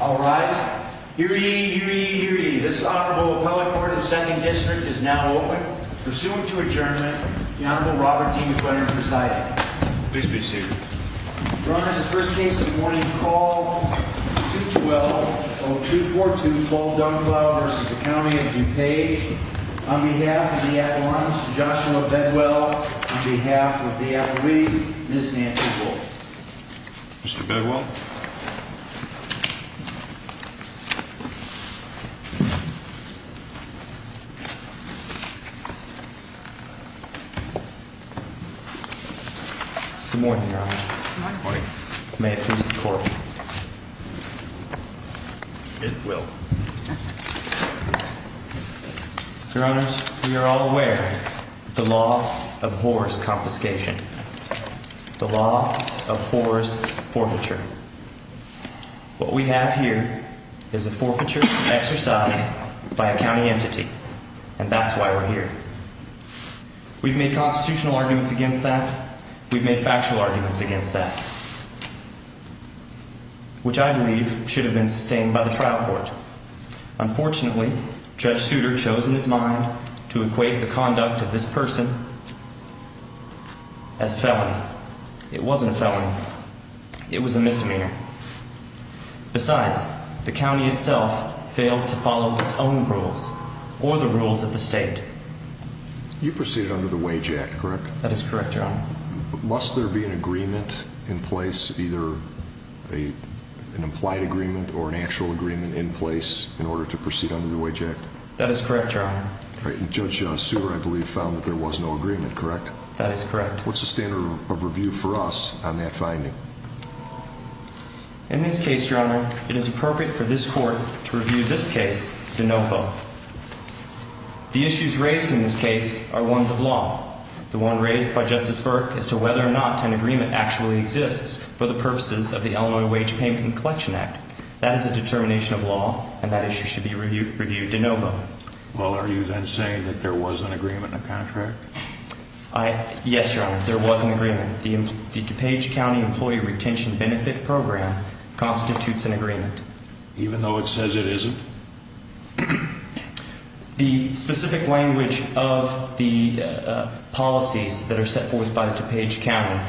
All rise. Hear ye, hear ye, hear ye. This Honorable Appellate Court of the 2nd District is now open. Pursuant to adjournment, the Honorable Robert D. McClendon presiding. Please be seated. Your Honor, this is the first case of the morning. Call 212-0242 Paul Dunklau v. County of DuPage. On behalf of the At-Large, Joshua Bedwell. On behalf of the At-Rig, Ms. Nancy Wolf. Mr. Bedwell. Mr. Bedwell. Good morning, Your Honor. Good morning. May it please the Court. It will. Your Honor, we are all aware of the law of horrors confiscation. The law of horrors forfeiture. What we have here is a forfeiture exercised by a county entity. And that's why we're here. We've made constitutional arguments against that. We've made factual arguments against that. Which I believe should have been sustained by the trial court. Unfortunately, Judge Souter chose in his mind to equate the conduct of this person as a felony. It wasn't a felony. It was a misdemeanor. Besides, the county itself failed to follow its own rules or the rules of the state. You proceeded under the Wage Act, correct? That is correct, Your Honor. Must there be an agreement in place, either an implied agreement or an actual agreement in place in order to proceed under the Wage Act? That is correct, Your Honor. All right. And Judge Souter, I believe, found that there was no agreement, correct? That is correct. What's the standard of review for us on that finding? In this case, Your Honor, it is appropriate for this Court to review this case to NOPA. The issues raised in this case are ones of law. The one raised by Justice Burke is to whether or not an agreement actually exists for the purposes of the Illinois Wage Payment and Collection Act. That is a determination of law, and that issue should be reviewed to NOPA. Well, are you then saying that there was an agreement in the contract? Yes, Your Honor, there was an agreement. The DuPage County Employee Retention Benefit Program constitutes an agreement. Even though it says it isn't? The specific language of the policies that are set forth by the DuPage County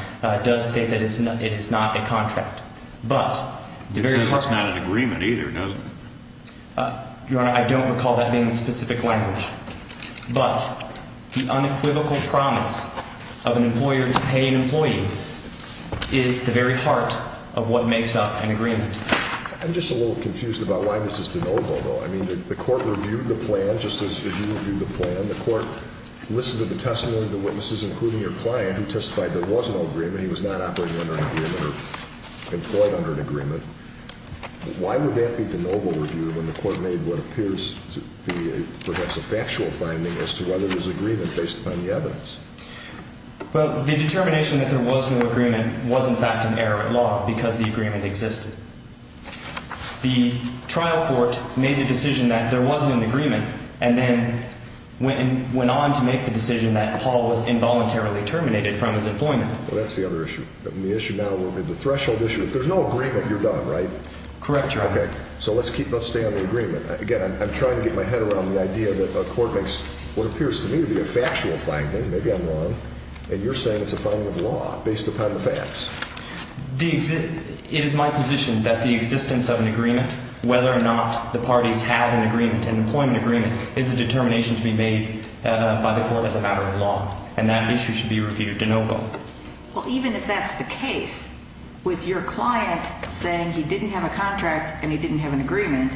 does state that it is not a contract. It says it's not an agreement either, doesn't it? Your Honor, I don't recall that being the specific language. But the unequivocal promise of an employer to pay an employee is the very heart of what makes up an agreement. I'm just a little confused about why this is de novo, though. I mean, the Court reviewed the plan just as you reviewed the plan. The Court listened to the testimony of the witnesses, including your client, who testified there was an agreement. He was not operating under an agreement or employed under an agreement. Why would that be de novo review when the Court made what appears to be perhaps a factual finding as to whether there's agreement based upon the evidence? Well, the determination that there was no agreement was, in fact, an error of law because the agreement existed. The trial court made the decision that there wasn't an agreement and then went on to make the decision that Paul was involuntarily terminated from his employment. Well, that's the other issue. The issue now will be the threshold issue. If there's no agreement, you're done, right? Correct, Your Honor. Okay. So let's stay on the agreement. Again, I'm trying to get my head around the idea that the Court makes what appears to me to be a factual finding. Maybe I'm wrong. And you're saying it's a finding of law based upon the facts. It is my position that the existence of an agreement, whether or not the parties had an agreement, an employment agreement, is a determination to be made by the Court as a matter of law. And that issue should be reviewed de novo. Well, even if that's the case, with your client saying he didn't have a contract and he didn't have an agreement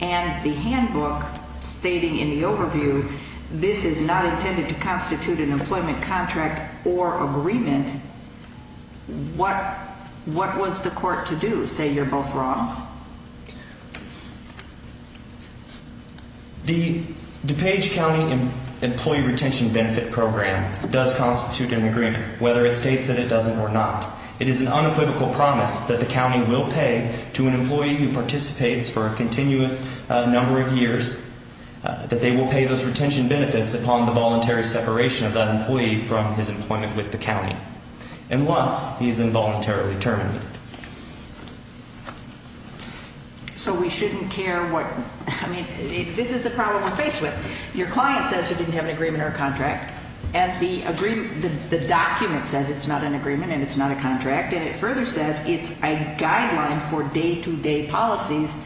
and the handbook stating in the overview this is not intended to constitute an employment contract or agreement, what was the Court to do, say you're both wrong? The DuPage County Employee Retention Benefit Program does constitute an agreement, whether it states that it doesn't or not. It is an unequivocal promise that the county will pay to an employee who participates for a continuous number of years, that they will pay those retention benefits upon the voluntary separation of that employee from his employment with the county, unless he is involuntarily terminated. So we shouldn't care what, I mean, this is the problem we're faced with. Your client says he didn't have an agreement or a contract, and the agreement, the document says it's not an agreement and it's not a contract, and it further says it's a guideline for day-to-day policies,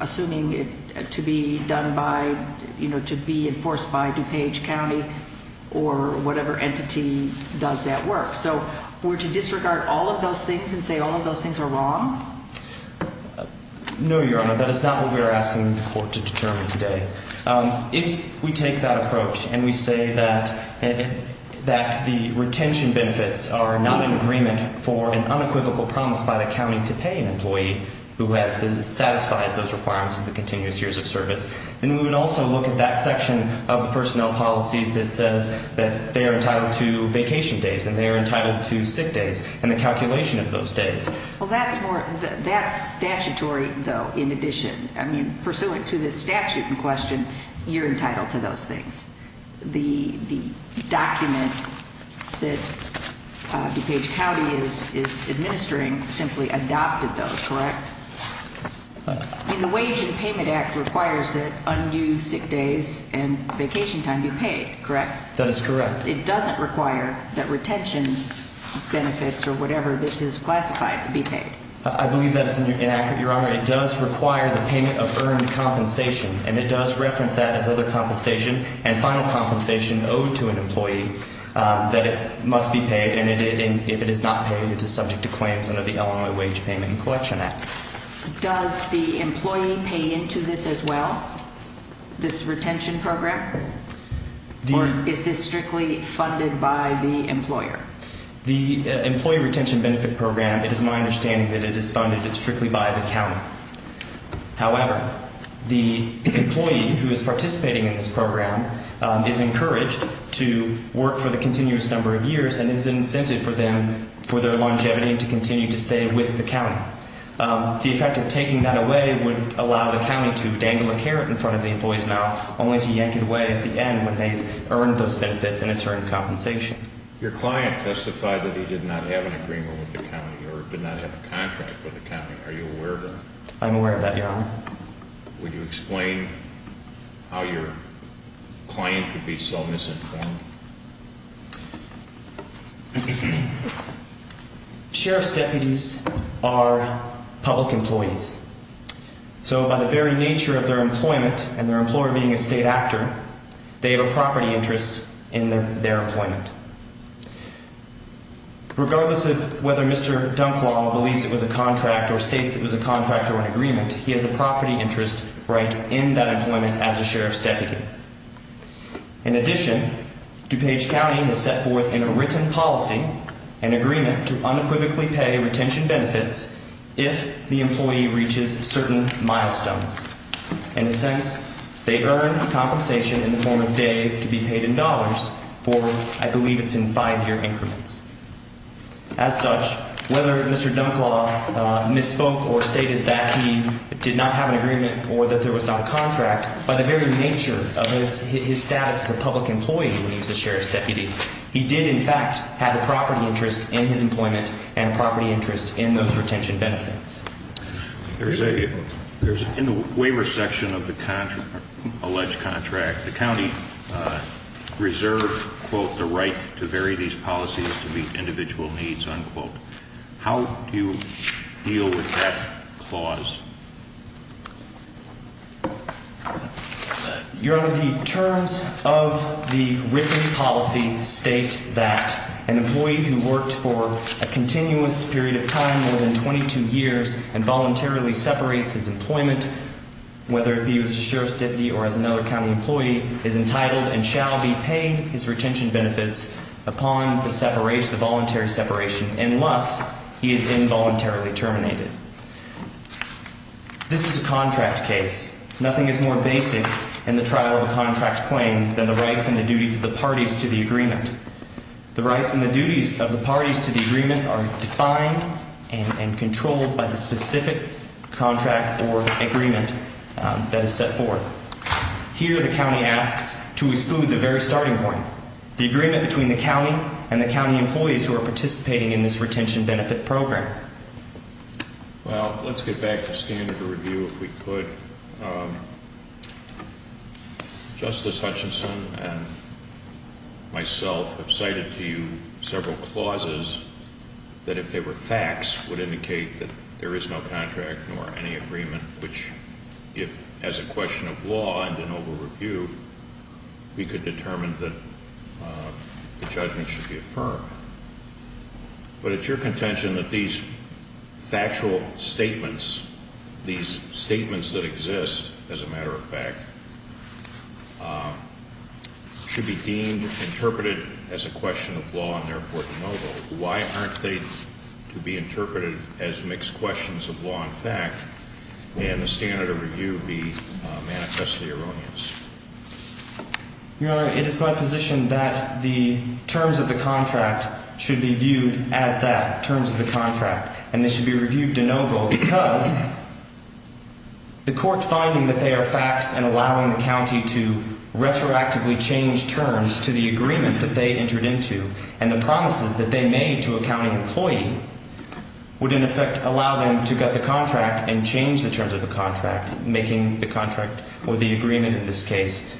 assuming to be done by, you know, to be enforced by DuPage County or whatever entity does that work. So were to disregard all of those things and say all of those things are wrong? No, Your Honor, that is not what we are asking the Court to determine today. If we take that approach and we say that the retention benefits are not an agreement for an unequivocal promise by the county to pay an employee who satisfies those requirements of the continuous years of service, then we would also look at that section of the personnel policies that says that they are entitled to vacation days and they are entitled to sick days and the calculation of those days. Well, that's more, that's statutory, though, in addition. I mean, pursuant to this statute in question, you're entitled to those things. The document that DuPage County is administering simply adopted those, correct? I mean, the Wage and Payment Act requires that unused sick days and vacation time be paid, correct? That is correct. It doesn't require that retention benefits or whatever this is classified to be paid. I believe that is inaccurate, Your Honor. It does require the payment of earned compensation, and it does reference that as other compensation and final compensation owed to an employee that must be paid. And if it is not paid, it is subject to claims under the Illinois Wage Payment and Collection Act. Does the employee pay into this as well, this retention program? Or is this strictly funded by the employer? The Employee Retention Benefit Program, it is my understanding that it is funded strictly by the county. However, the employee who is participating in this program is encouraged to work for the continuous number of years and is incented for them for their longevity and to continue to stay with the county. The effect of taking that away would allow the county to dangle a carrot in front of the employee's mouth only to yank it away at the end when they've earned those benefits and it's earned compensation. Your client testified that he did not have an agreement with the county or did not have a contract with the county. Are you aware of that? I'm aware of that, Your Honor. Would you explain how your client could be so misinformed? Sheriff's deputies are public employees. So by the very nature of their employment and their employer being a state actor, they have a property interest in their employment. Regardless of whether Mr. Dunklaw believes it was a contract or states it was a contract or an agreement, he has a property interest right in that employment as a sheriff's deputy. In addition, DuPage County has set forth in a written policy an agreement to unequivocally pay retention benefits if the employee reaches certain milestones. In a sense, they earn compensation in the form of days to be paid in dollars for, I believe it's in five-year increments. As such, whether Mr. Dunklaw misspoke or stated that he did not have an agreement or that there was not a contract, by the very nature of his status as a public employee when he was a sheriff's deputy, he did, in fact, have a property interest in his employment and a property interest in those retention benefits. In the waiver section of the alleged contract, the county reserved, quote, the right to vary these policies to meet individual needs, unquote. How do you deal with that clause? Your Honor, the terms of the written policy state that an employee who worked for a continuous period of time, more than 22 years, and voluntarily separates his employment, whether he was a sheriff's deputy or as another county employee, is entitled and shall be paid his retention benefits upon the voluntary separation unless he is involuntarily terminated. This is a contract case. Nothing is more basic in the trial of a contract claim than the rights and the duties of the parties to the agreement. The rights and the duties of the parties to the agreement are defined and controlled by the specific contract or agreement that is set forth. Here, the county asks to exclude the very starting point, the agreement between the county and the county employees who are participating in this retention benefit program. Well, let's get back to standard of review, if we could. Justice Hutchinson and myself have cited to you several clauses that, if they were facts, would indicate that there is no contract nor any agreement, which, if, as a question of law and a noble review, we could determine that the judgment should be affirmed. But it's your contention that these factual statements, these statements that exist, as a matter of fact, should be deemed, interpreted as a question of law and, therefore, a noble. Why aren't they to be interpreted as mixed questions of law and fact, and the standard of review be manifestly erroneous? Your Honor, it is my position that the terms of the contract should be viewed as that, terms of the contract. And they should be reviewed de noble because the court finding that they are facts and allowing the county to retroactively change terms to the agreement that they entered into and the promises that they made to a county employee would, in effect, allow them to get the contract and change the terms of the contract, making the contract or the agreement, in this case,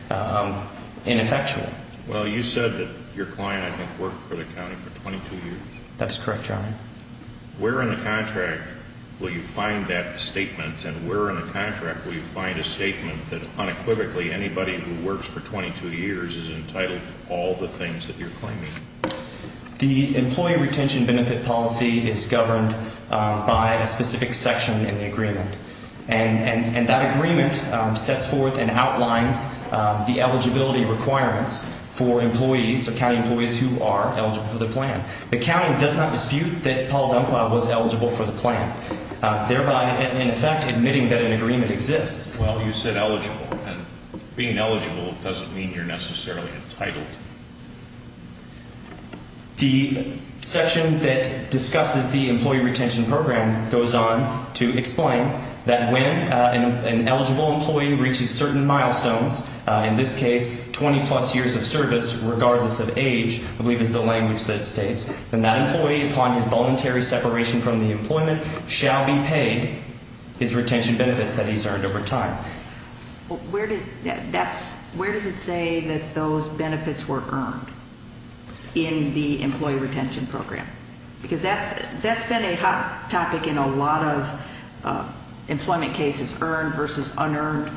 ineffectual. Well, you said that your client, I think, worked for the county for 22 years. Where in the contract will you find that statement? And where in the contract will you find a statement that unequivocally anybody who works for 22 years is entitled to all the things that you're claiming? The employee retention benefit policy is governed by a specific section in the agreement. And that agreement sets forth and outlines the eligibility requirements for employees, for county employees who are eligible for the plan. The county does not dispute that Paul Dunklow was eligible for the plan, thereby, in effect, admitting that an agreement exists. Well, you said eligible, and being eligible doesn't mean you're necessarily entitled. The section that discusses the employee retention program goes on to explain that when an eligible employee reaches certain milestones, in this case, 20-plus years of service, regardless of age, I believe is the language that it states, then that employee, upon his voluntary separation from the employment, shall be paid his retention benefits that he's earned over time. Well, where does it say that those benefits were earned in the employee retention program? Because that's been a hot topic in a lot of employment cases, earned versus unearned,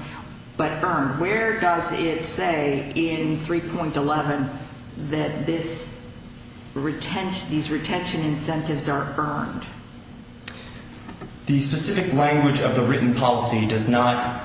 but earned. Where does it say in 3.11 that these retention incentives are earned? The specific language of the written policy does not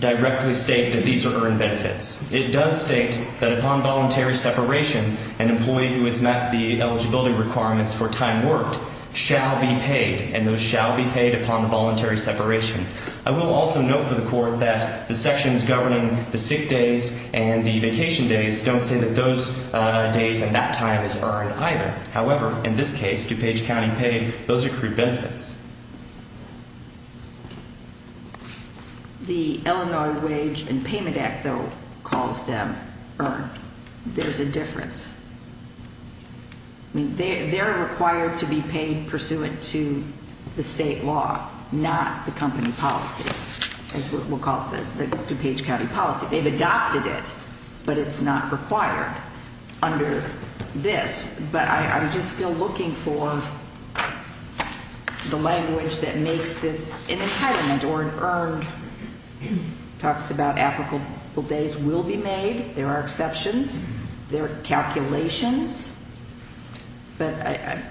directly state that these are earned benefits. It does state that upon voluntary separation, an employee who has met the eligibility requirements for time worked shall be paid, and those shall be paid upon voluntary separation. I will also note for the Court that the sections governing the sick days and the vacation days don't say that those days and that time is earned either. However, in this case, DuPage County paid those accrued benefits. The Illinois Wage and Payment Act, though, calls them earned. There's a difference. I mean, they're required to be paid pursuant to the state law, not the company policy, as we'll call it, the DuPage County policy. They've adopted it, but it's not required under this. But I'm just still looking for the language that makes this an entitlement or an earned. It talks about applicable days will be made. There are exceptions. There are calculations. But,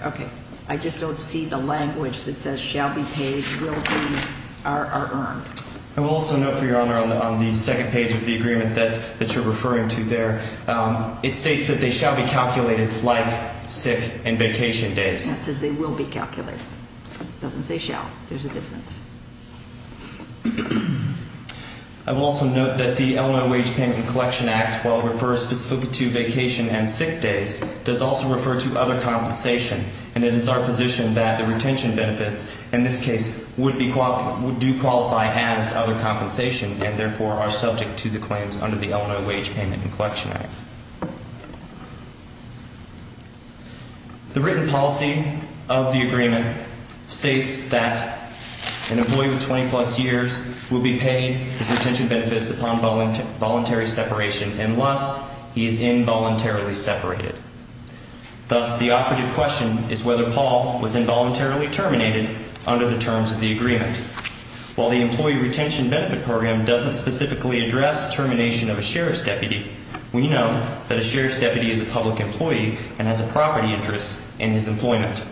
okay, I just don't see the language that says shall be paid, will be, are earned. I will also note, for Your Honor, on the second page of the agreement that you're referring to there, it states that they shall be calculated like sick and vacation days. It says they will be calculated. It doesn't say shall. There's a difference. I will also note that the Illinois Wage, Payment, and Collection Act, while it refers specifically to vacation and sick days, does also refer to other compensation. And it is our position that the retention benefits, in this case, would do qualify as other compensation and, therefore, are subject to the claims under the Illinois Wage, Payment, and Collection Act. The written policy of the agreement states that an employee with 20-plus years will be paid his retention benefits upon voluntary separation unless he is involuntarily separated. Thus, the operative question is whether Paul was involuntarily terminated under the terms of the agreement. While the Employee Retention Benefit Program doesn't specifically address termination of a sheriff's deputy, we know that a sheriff's deputy is a public employee and has a property interest in his employment.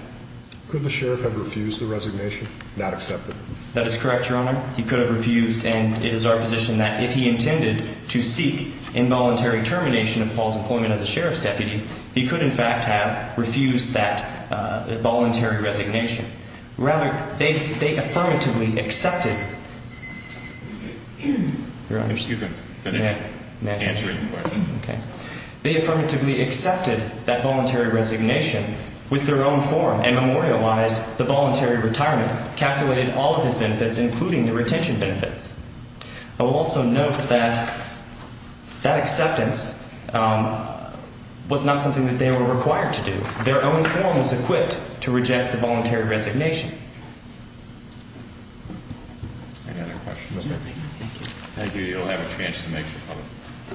Could the sheriff have refused the resignation, not accepted? That is correct, Your Honor. He could have refused, and it is our position that if he intended to seek involuntary termination of Paul's employment as a sheriff's deputy, he could, in fact, have refused that voluntary resignation. Rather, they affirmatively accepted that voluntary resignation with their own form and memorialized the voluntary retirement, calculated all of his benefits, including the retention benefits. I will also note that that acceptance was not something that they were required to do. Their own form was equipped to reject the voluntary resignation. Any other questions? No, thank you. Thank you. You'll have a chance to make your comment.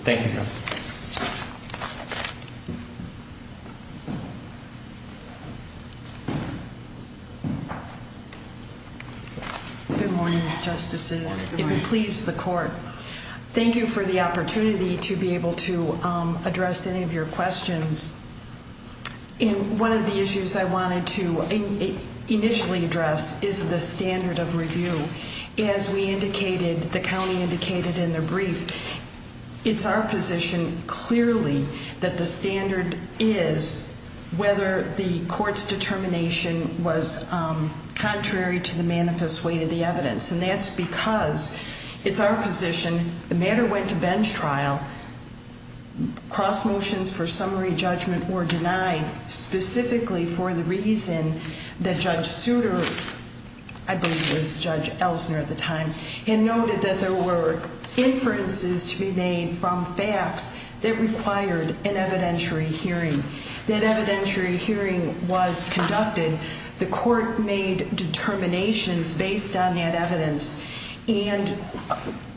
Thank you, Your Honor. Good morning, Justices. Good morning. If it pleases the Court, thank you for the opportunity to be able to address any of your questions. One of the issues I wanted to initially address is the standard of review. As we indicated, the county indicated in the brief, it's our position clearly that the standard is whether the court's determination was contrary to the manifest weight of the evidence. And that's because it's our position, the matter went to bench trial, cross motions for summary judgment were denied specifically for the reason that Judge Souter, I believe it was Judge Elsner at the time, had noted that there were inferences to be made from facts that required an evidentiary hearing. That evidentiary hearing was conducted. The court made determinations based on that evidence. And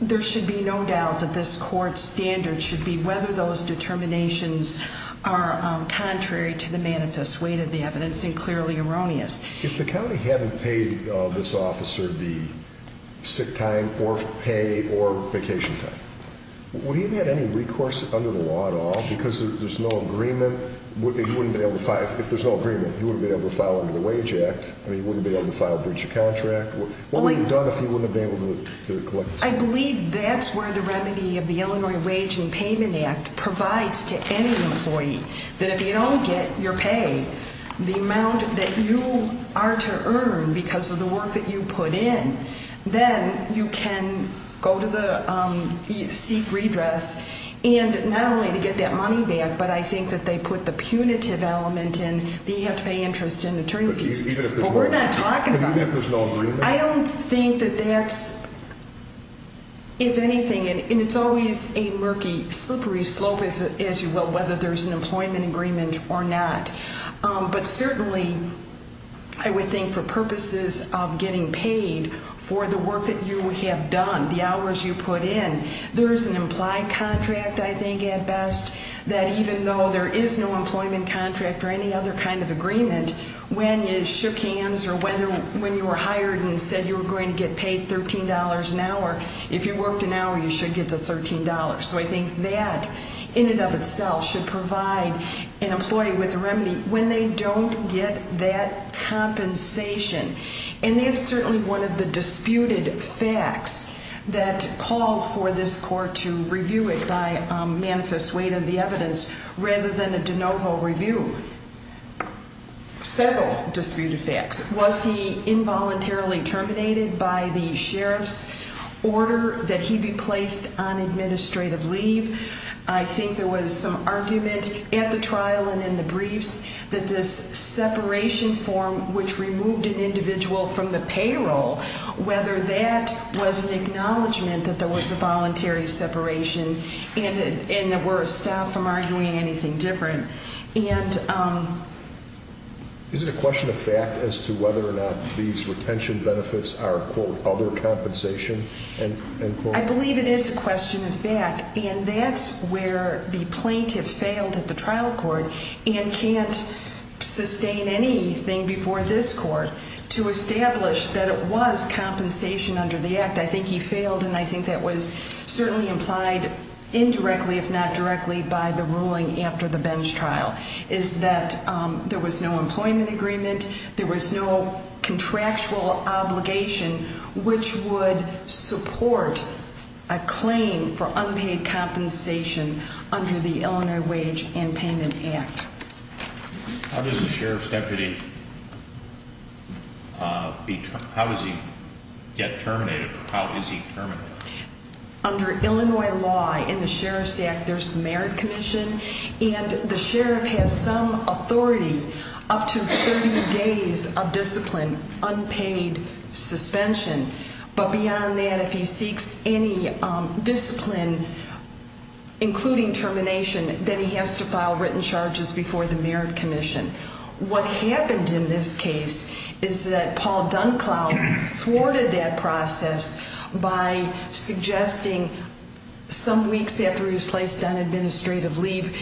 there should be no doubt that this court's standard should be whether those determinations are contrary to the manifest weight of the evidence and clearly erroneous. If the county hadn't paid this officer the sick time or pay or vacation time, would he have had any recourse under the law at all? Because there's no agreement, if there's no agreement, he wouldn't be able to file under the Wage Act or he wouldn't be able to file breach of contract. What would be done if he wouldn't have been able to collect? I believe that's where the remedy of the Illinois Wage and Payment Act provides to any employee. That if you don't get your pay, the amount that you are to earn because of the work that you put in, then you can go to seek redress. And not only to get that money back, but I think that they put the punitive element in that you have to pay interest and attorney fees. But we're not talking about that. I don't think that that's, if anything, and it's always a murky, slippery slope, as you will, whether there's an employment agreement or not. But certainly, I would think for purposes of getting paid for the work that you have done, the hours you put in, there is an implied contract, I think at best, that even though there is no employment contract or any other kind of agreement, when you shook hands or when you were hired and said you were going to get paid $13 an hour, if you worked an hour, you should get the $13. So I think that, in and of itself, should provide an employee with a remedy when they don't get that compensation. And that's certainly one of the disputed facts that called for this court to review it by manifest weight of the evidence, rather than a de novo review. Several disputed facts. Was he involuntarily terminated by the sheriff's order that he be placed on administrative leave? I think there was some argument at the trial and in the briefs that this separation form, which removed an individual from the payroll, whether that was an acknowledgment that there was a voluntary separation and that we're stopped from arguing anything different. Is it a question of fact as to whether or not these retention benefits are, quote, other compensation? I believe it is a question of fact, and that's where the plaintiff failed at the trial court and can't sustain anything before this court to establish that it was compensation under the act. I think he failed, and I think that was certainly implied indirectly, if not directly, by the ruling after the bench trial, is that there was no employment agreement. There was no contractual obligation which would support a claim for unpaid compensation under the Illinois Wage and Payment Act. How does a sheriff's deputy get terminated, or how is he terminated? Under Illinois law, in the Sheriff's Act, there's a merit commission, and the sheriff has some authority up to 30 days of discipline, unpaid suspension. But beyond that, if he seeks any discipline, including termination, then he has to file written charges before the merit commission. What happened in this case is that Paul Dunklow thwarted that process by suggesting some weeks after he was placed on administrative leave,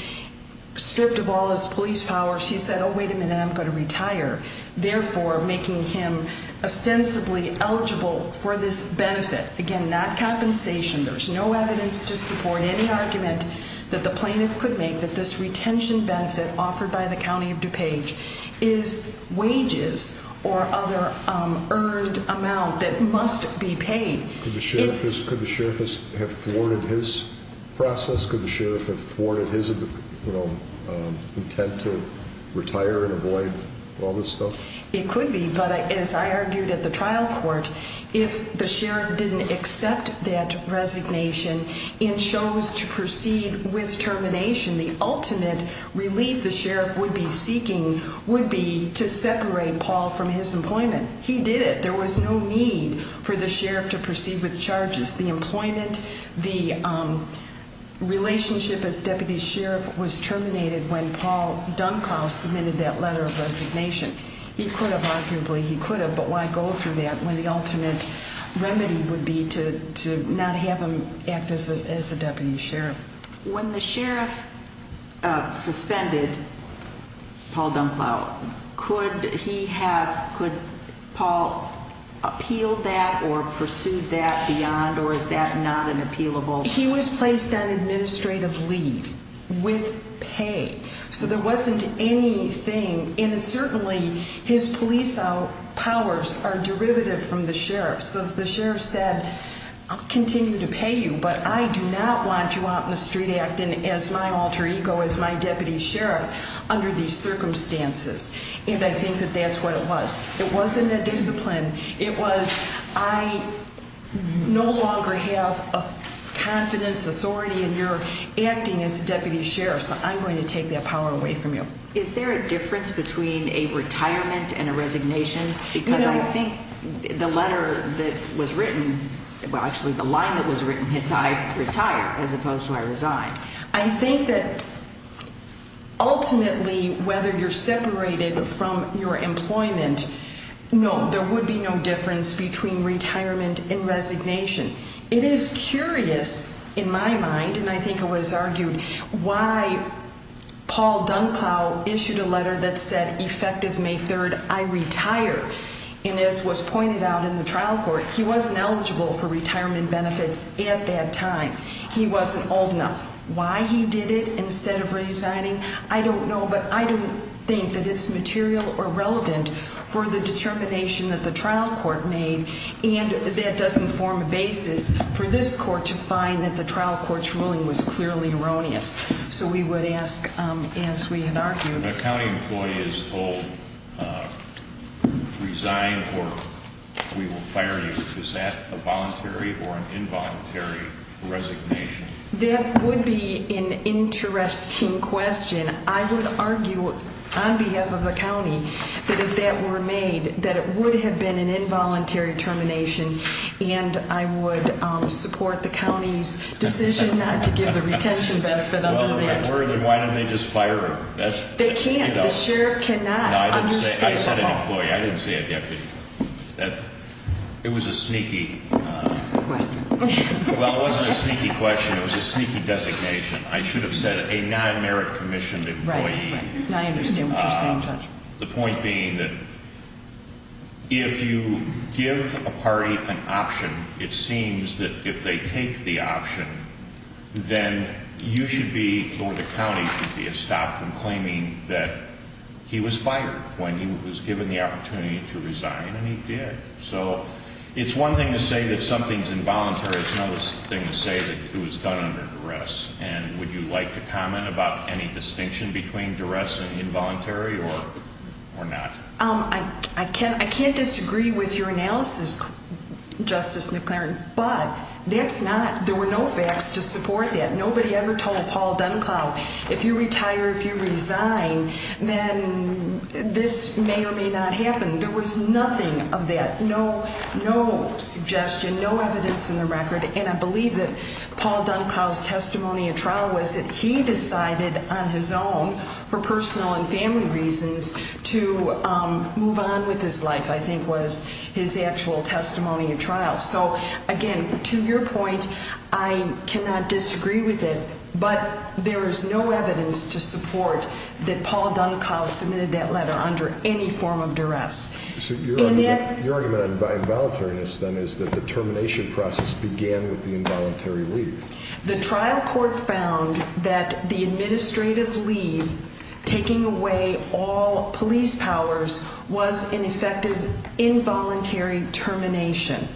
stripped of all his police powers, he said, oh, wait a minute, I'm going to retire, therefore making him ostensibly eligible for this benefit. Again, not compensation. There's no evidence to support any argument that the plaintiff could make that this retention benefit offered by the County of DuPage is wages or other earned amount that must be paid. Could the sheriff have thwarted his process? Could the sheriff have thwarted his intent to retire and avoid all this stuff? It could be, but as I argued at the trial court, if the sheriff didn't accept that resignation and chose to proceed with termination, the ultimate relief the sheriff would be seeking would be to separate Paul from his employment. He did it. There was no need for the sheriff to proceed with charges. The employment, the relationship as deputy sheriff was terminated when Paul Dunklow submitted that letter of resignation. He could have, arguably, he could have, but why go through that when the ultimate remedy would be to not have him act as a deputy sheriff? When the sheriff suspended Paul Dunklow, could he have, could Paul appeal that or pursue that beyond, or is that not an appealable? He was placed on administrative leave with pay, so there wasn't anything. And certainly his police powers are derivative from the sheriff's. So the sheriff said, I'll continue to pay you, but I do not want you out in the street acting as my alter ego, as my deputy sheriff, under these circumstances. And I think that that's what it was. It wasn't a discipline. It was, I no longer have a confidence, authority in your acting as deputy sheriff, so I'm going to take that power away from you. Is there a difference between a retirement and a resignation? Because I think the letter that was written, well, actually, the line that was written is I retire as opposed to I resign. I think that ultimately, whether you're separated from your employment, no, there would be no difference between retirement and resignation. It is curious in my mind, and I think it was argued, why Paul Dunklow issued a letter that said effective May 3rd, I retire. And as was pointed out in the trial court, he wasn't eligible for retirement benefits at that time. He wasn't old enough. Why he did it instead of resigning, I don't know, but I don't think that it's material or relevant for the determination that the trial court made. And that doesn't form a basis for this court to find that the trial court's ruling was clearly erroneous. So we would ask, as we had argued- If a county employee is told, resign or we will fire you, is that a voluntary or an involuntary resignation? That would be an interesting question. I would argue on behalf of the county that if that were made, that it would have been an involuntary termination. And I would support the county's decision not to give the retention benefit under that. Well, then why didn't they just fire her? They can't. The sheriff cannot. No, I said an employee. I didn't say a deputy. It was a sneaky- Question. Well, it wasn't a sneaky question. It was a sneaky designation. I should have said a non-merit commissioned employee. I understand what you're saying, Judge. The point being that if you give a party an option, it seems that if they take the option, then you should be, or the county should be, stopped from claiming that he was fired when he was given the opportunity to resign, and he did. So it's one thing to say that something's involuntary. It's another thing to say that it was done under duress. And would you like to comment about any distinction between duress and involuntary or not? I can't disagree with your analysis, Justice McClaren, but that's not, there were no facts to support that. Nobody ever told Paul Dunklow, if you retire, if you resign, then this may or may not happen. There was nothing of that, no suggestion, no evidence in the record, and I believe that Paul Dunklow's testimony at trial was that he decided on his own, for personal and family reasons, to move on with his life, I think was his actual testimony at trial. So, again, to your point, I cannot disagree with it, but there is no evidence to support that Paul Dunklow submitted that letter under any form of duress. So your argument on involuntariness, then, is that the termination process began with the involuntary leave. The trial court found that the administrative leave, taking away all police powers, was an effective involuntary termination.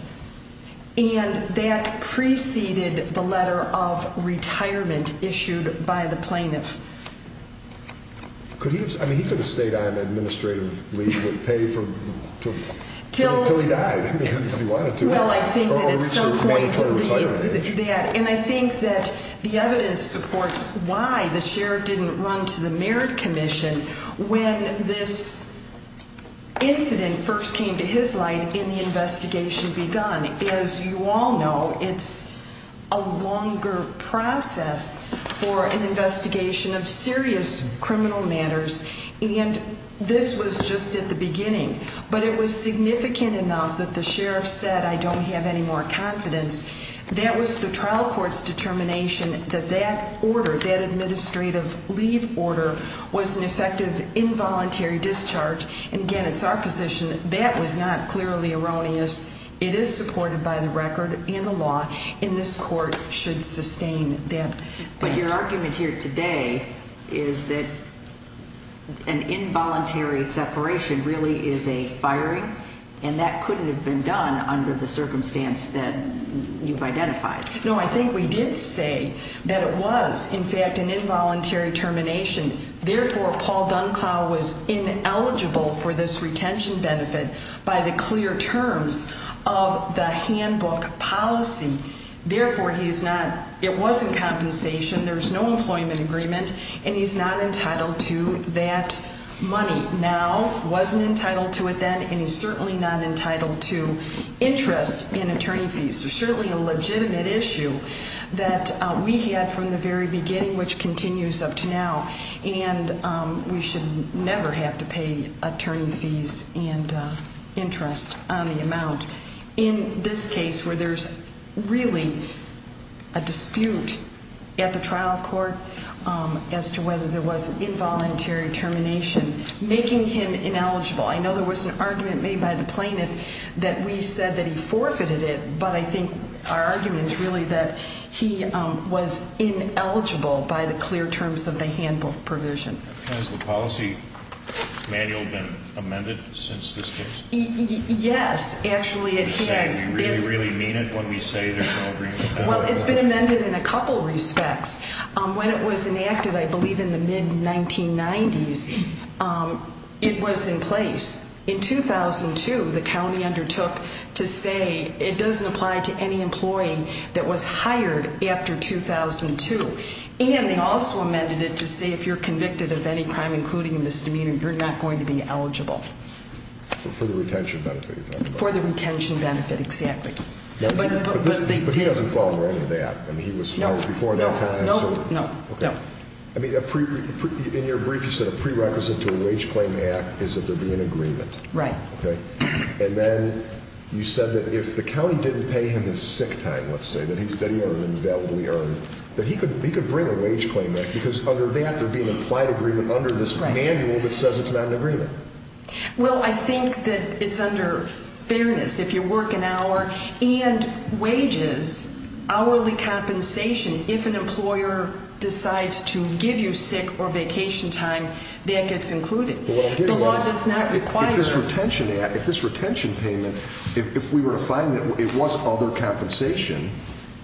And that preceded the letter of retirement issued by the plaintiff. Could he have, I mean, he could have stayed on administrative leave with pay until he died, if he wanted to. Well, I think that at some point that, and I think that the evidence supports why the sheriff didn't run to the Merit Commission when this incident first came to his light and the investigation begun. As you all know, it's a longer process for an investigation of serious criminal matters, and this was just at the beginning. But it was significant enough that the sheriff said, I don't have any more confidence. That was the trial court's determination that that order, that administrative leave order, was an effective involuntary discharge. And, again, it's our position that that was not clearly erroneous. It is supported by the record and the law, and this court should sustain that. But your argument here today is that an involuntary separation really is a firing, and that couldn't have been done under the circumstance that you've identified. No, I think we did say that it was, in fact, an involuntary termination. Therefore, Paul Dunclow was ineligible for this retention benefit by the clear terms of the handbook policy. Therefore, it was in compensation. There's no employment agreement, and he's not entitled to that money now, wasn't entitled to it then, and he's certainly not entitled to interest and attorney fees. There's certainly a legitimate issue that we had from the very beginning, which continues up to now, and we should never have to pay attorney fees and interest on the amount. In this case, where there's really a dispute at the trial court as to whether there was involuntary termination, making him ineligible. I know there was an argument made by the plaintiff that we said that he forfeited it, but I think our argument is really that he was ineligible by the clear terms of the handbook provision. Has the policy manual been amended since this case? Yes, actually it has. Are you saying you really, really mean it when we say there's no agreement? Well, it's been amended in a couple respects. When it was enacted, I believe in the mid-1990s, it was in place. In 2002, the county undertook to say it doesn't apply to any employee that was hired after 2002, and they also amended it to say if you're convicted of any crime, including a misdemeanor, you're not going to be eligible. For the retention benefit, you're talking about. For the retention benefit, exactly. But he doesn't fall in line with that. No, no, no. In your brief, you said a prerequisite to a wage claim act is that there be an agreement. Right. And then you said that if the county didn't pay him his sick time, let's say, that he earned an invalidly earned, that he could bring a wage claim act because under that there'd be an implied agreement under this manual that says it's not an agreement. Well, I think that it's under fairness if you work an hour and wages, hourly compensation, if an employer decides to give you sick or vacation time, that gets included. The law does not require that. If this retention payment, if we were to find that it was other compensation,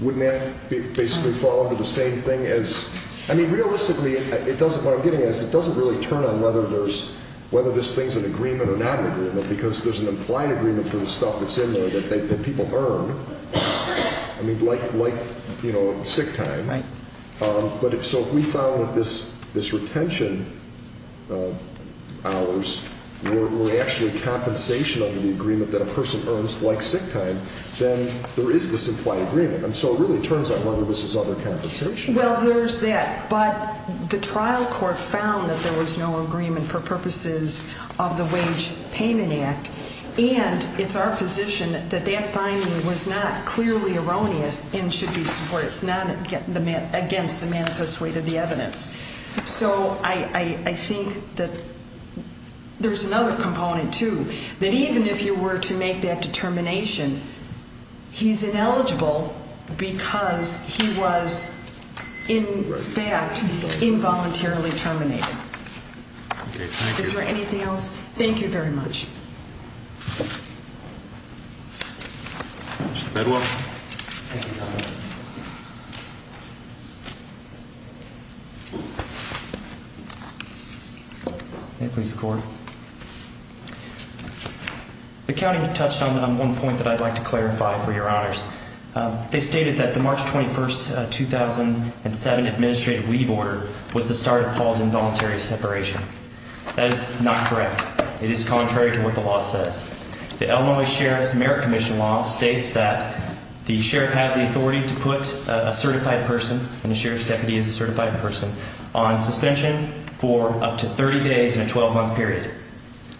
wouldn't that basically fall under the same thing as, I mean, realistically, what I'm getting at is it doesn't really turn on whether this thing's an agreement or not an agreement because there's an implied agreement for the stuff that's in there that people earn, like sick time. Right. So if we found that this retention hours were actually compensation under the agreement that a person earns like sick time, then there is this implied agreement. And so it really turns on whether this is other compensation. Well, there's that. But the trial court found that there was no agreement for purposes of the Wage Payment Act, and it's our position that that finding was not clearly erroneous and should be supported. It's not against the manifest weight of the evidence. So I think that there's another component, too, that even if you were to make that determination, he's ineligible because he was, in fact, involuntarily terminated. Okay. Thank you. Is there anything else? Thank you very much. Mr. Bedwell. May it please the Court. The county touched on one point that I'd like to clarify for your honors. They stated that the March 21, 2007 administrative leave order was the start of Paul's involuntary separation. That is not correct. It is contrary to what the law says. The Illinois Sheriff's Merit Commission law states that the sheriff has the authority to put a certified person, and the sheriff's deputy is a certified person, on suspension for up to 30 days in a 12-month period.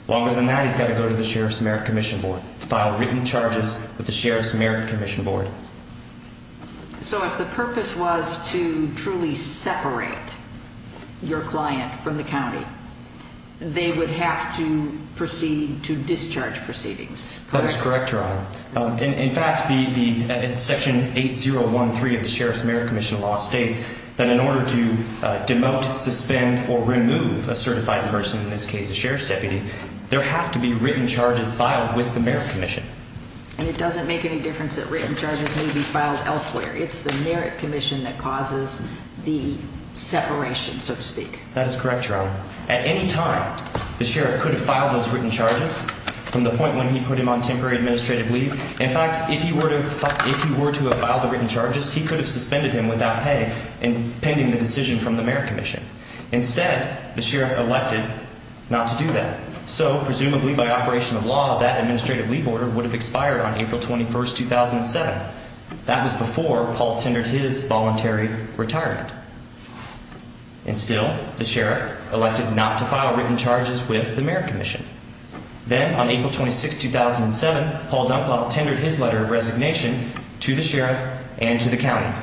Longer than that, he's got to go to the Sheriff's Merit Commission Board, file written charges with the Sheriff's Merit Commission Board. So if the purpose was to truly separate your client from the county, they would have to proceed to discharge proceedings, correct? That is correct, Your Honor. In fact, Section 8013 of the Sheriff's Merit Commission law states that in order to demote, suspend, or remove a certified person, in this case a sheriff's deputy, there have to be written charges filed with the Merit Commission. And it doesn't make any difference that written charges may be filed elsewhere. It's the Merit Commission that causes the separation, so to speak. That is correct, Your Honor. At any time, the sheriff could have filed those written charges from the point when he put him on temporary administrative leave. In fact, if he were to have filed the written charges, he could have suspended him without pay and pending the decision from the Merit Commission. Instead, the sheriff elected not to do that. So presumably by operation of law, that administrative leave order would have expired on April 21, 2007. That was before Paul tendered his voluntary retirement. And still, the sheriff elected not to file written charges with the Merit Commission. Then on April 26, 2007, Paul Dunklop tendered his letter of resignation to the sheriff and to the county.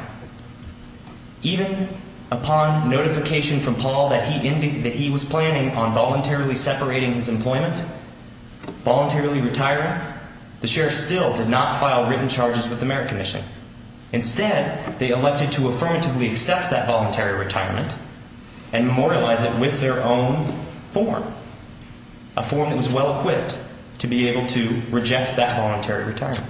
Even upon notification from Paul that he was planning on voluntarily separating his employment, voluntarily retiring, the sheriff still did not file written charges with the Merit Commission. Instead, they elected to affirmatively accept that voluntary retirement and memorialize it with their own form, a form that was well-equipped to be able to reject that voluntary retirement.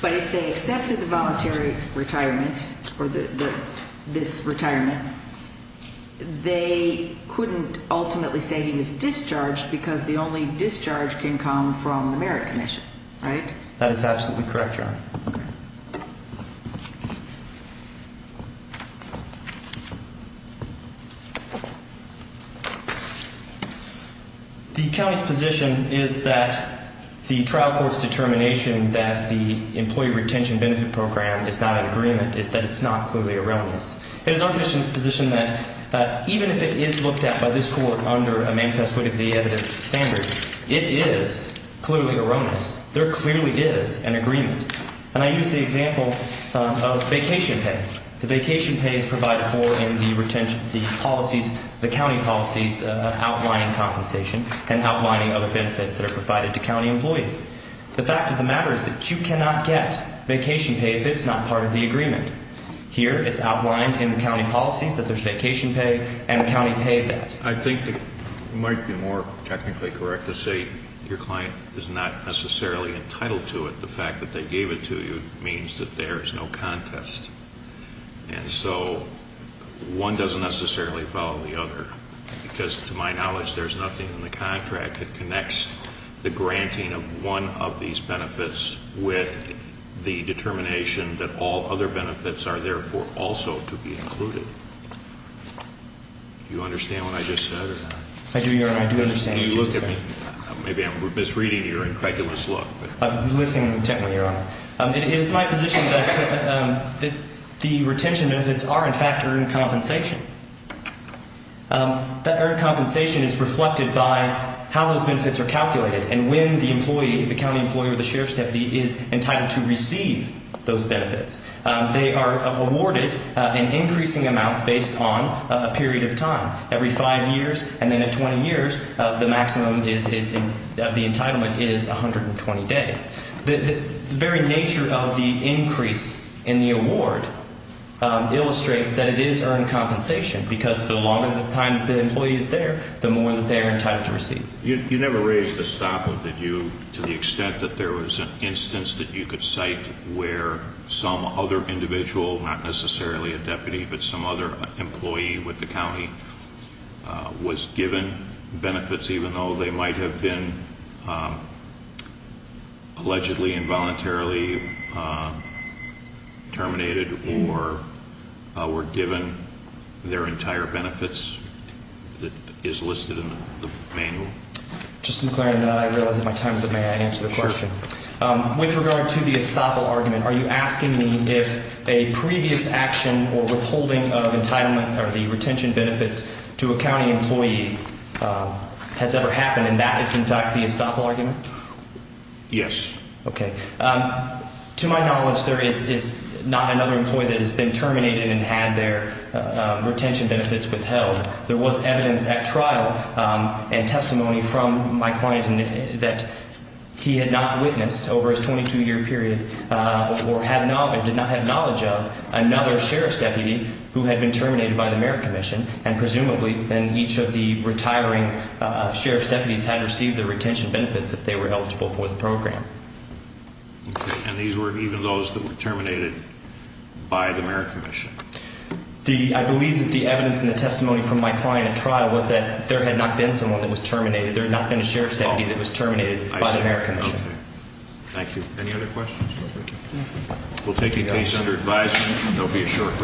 But if they accepted the voluntary retirement or this retirement, they couldn't ultimately say he was discharged because the only discharge can come from the Merit Commission, right? That is absolutely correct, Your Honor. The county's position is that the trial court's determination that the Employee Retention Benefit Program is not in agreement is that it's not clearly erroneous. It is our position that even if it is looked at by this court under a manifest way to the evidence standard, it is clearly erroneous. There clearly is an agreement. And I use the example of vacation pay. The vacation pay is provided for in the county policies outlining compensation and outlining other benefits that are provided to county employees. The fact of the matter is that you cannot get vacation pay if it's not part of the agreement. Here, it's outlined in the county policies that there's vacation pay and the county paid that. I think it might be more technically correct to say your client is not necessarily entitled to it. The fact that they gave it to you means that there is no contest. And so one doesn't necessarily follow the other. Because to my knowledge, there's nothing in the contract that connects the granting of one of these benefits with the determination that all other benefits are therefore also to be included. Do you understand what I just said? I do, Your Honor. I do understand what you just said. You looked at me. Maybe I'm misreading your incredulous look. I'm listening intently, Your Honor. It is my position that the retention benefits are, in fact, earned compensation. That earned compensation is reflected by how those benefits are calculated and when the employee, the county employee or the sheriff's deputy, is entitled to receive those benefits. They are awarded in increasing amounts based on a period of time. Every five years and then at 20 years, the maximum of the entitlement is 120 days. The very nature of the increase in the award illustrates that it is earned compensation because the longer the time the employee is there, the more that they are entitled to receive. You never raised a stop, did you? To the extent that there was an instance that you could cite where some other individual, not necessarily a deputy, but some other employee with the county was given benefits, even though they might have been allegedly involuntarily terminated or were given their entire benefits that is listed in the manual. Just in clarifying that, I realize that my time is up. May I answer the question? Sure. With regard to the estoppel argument, are you asking me if a previous action or withholding of entitlement or the retention benefits to a county employee has ever happened and that is, in fact, the estoppel argument? Yes. Okay. To my knowledge, there is not another employee that has been terminated and had their retention benefits withheld. There was evidence at trial and testimony from my client that he had not witnessed over his 22-year period or did not have knowledge of another sheriff's deputy who had been terminated by the Merit Commission, and presumably then each of the retiring sheriff's deputies had received their retention benefits if they were eligible for the program. Okay. And these were even those that were terminated by the Merit Commission? I believe that the evidence and the testimony from my client at trial was that there had not been someone that was terminated. There had not been a sheriff's deputy that was terminated by the Merit Commission. Okay. Thank you. Any other questions? We'll take a case under advisement. There will be a short recess. There's another case.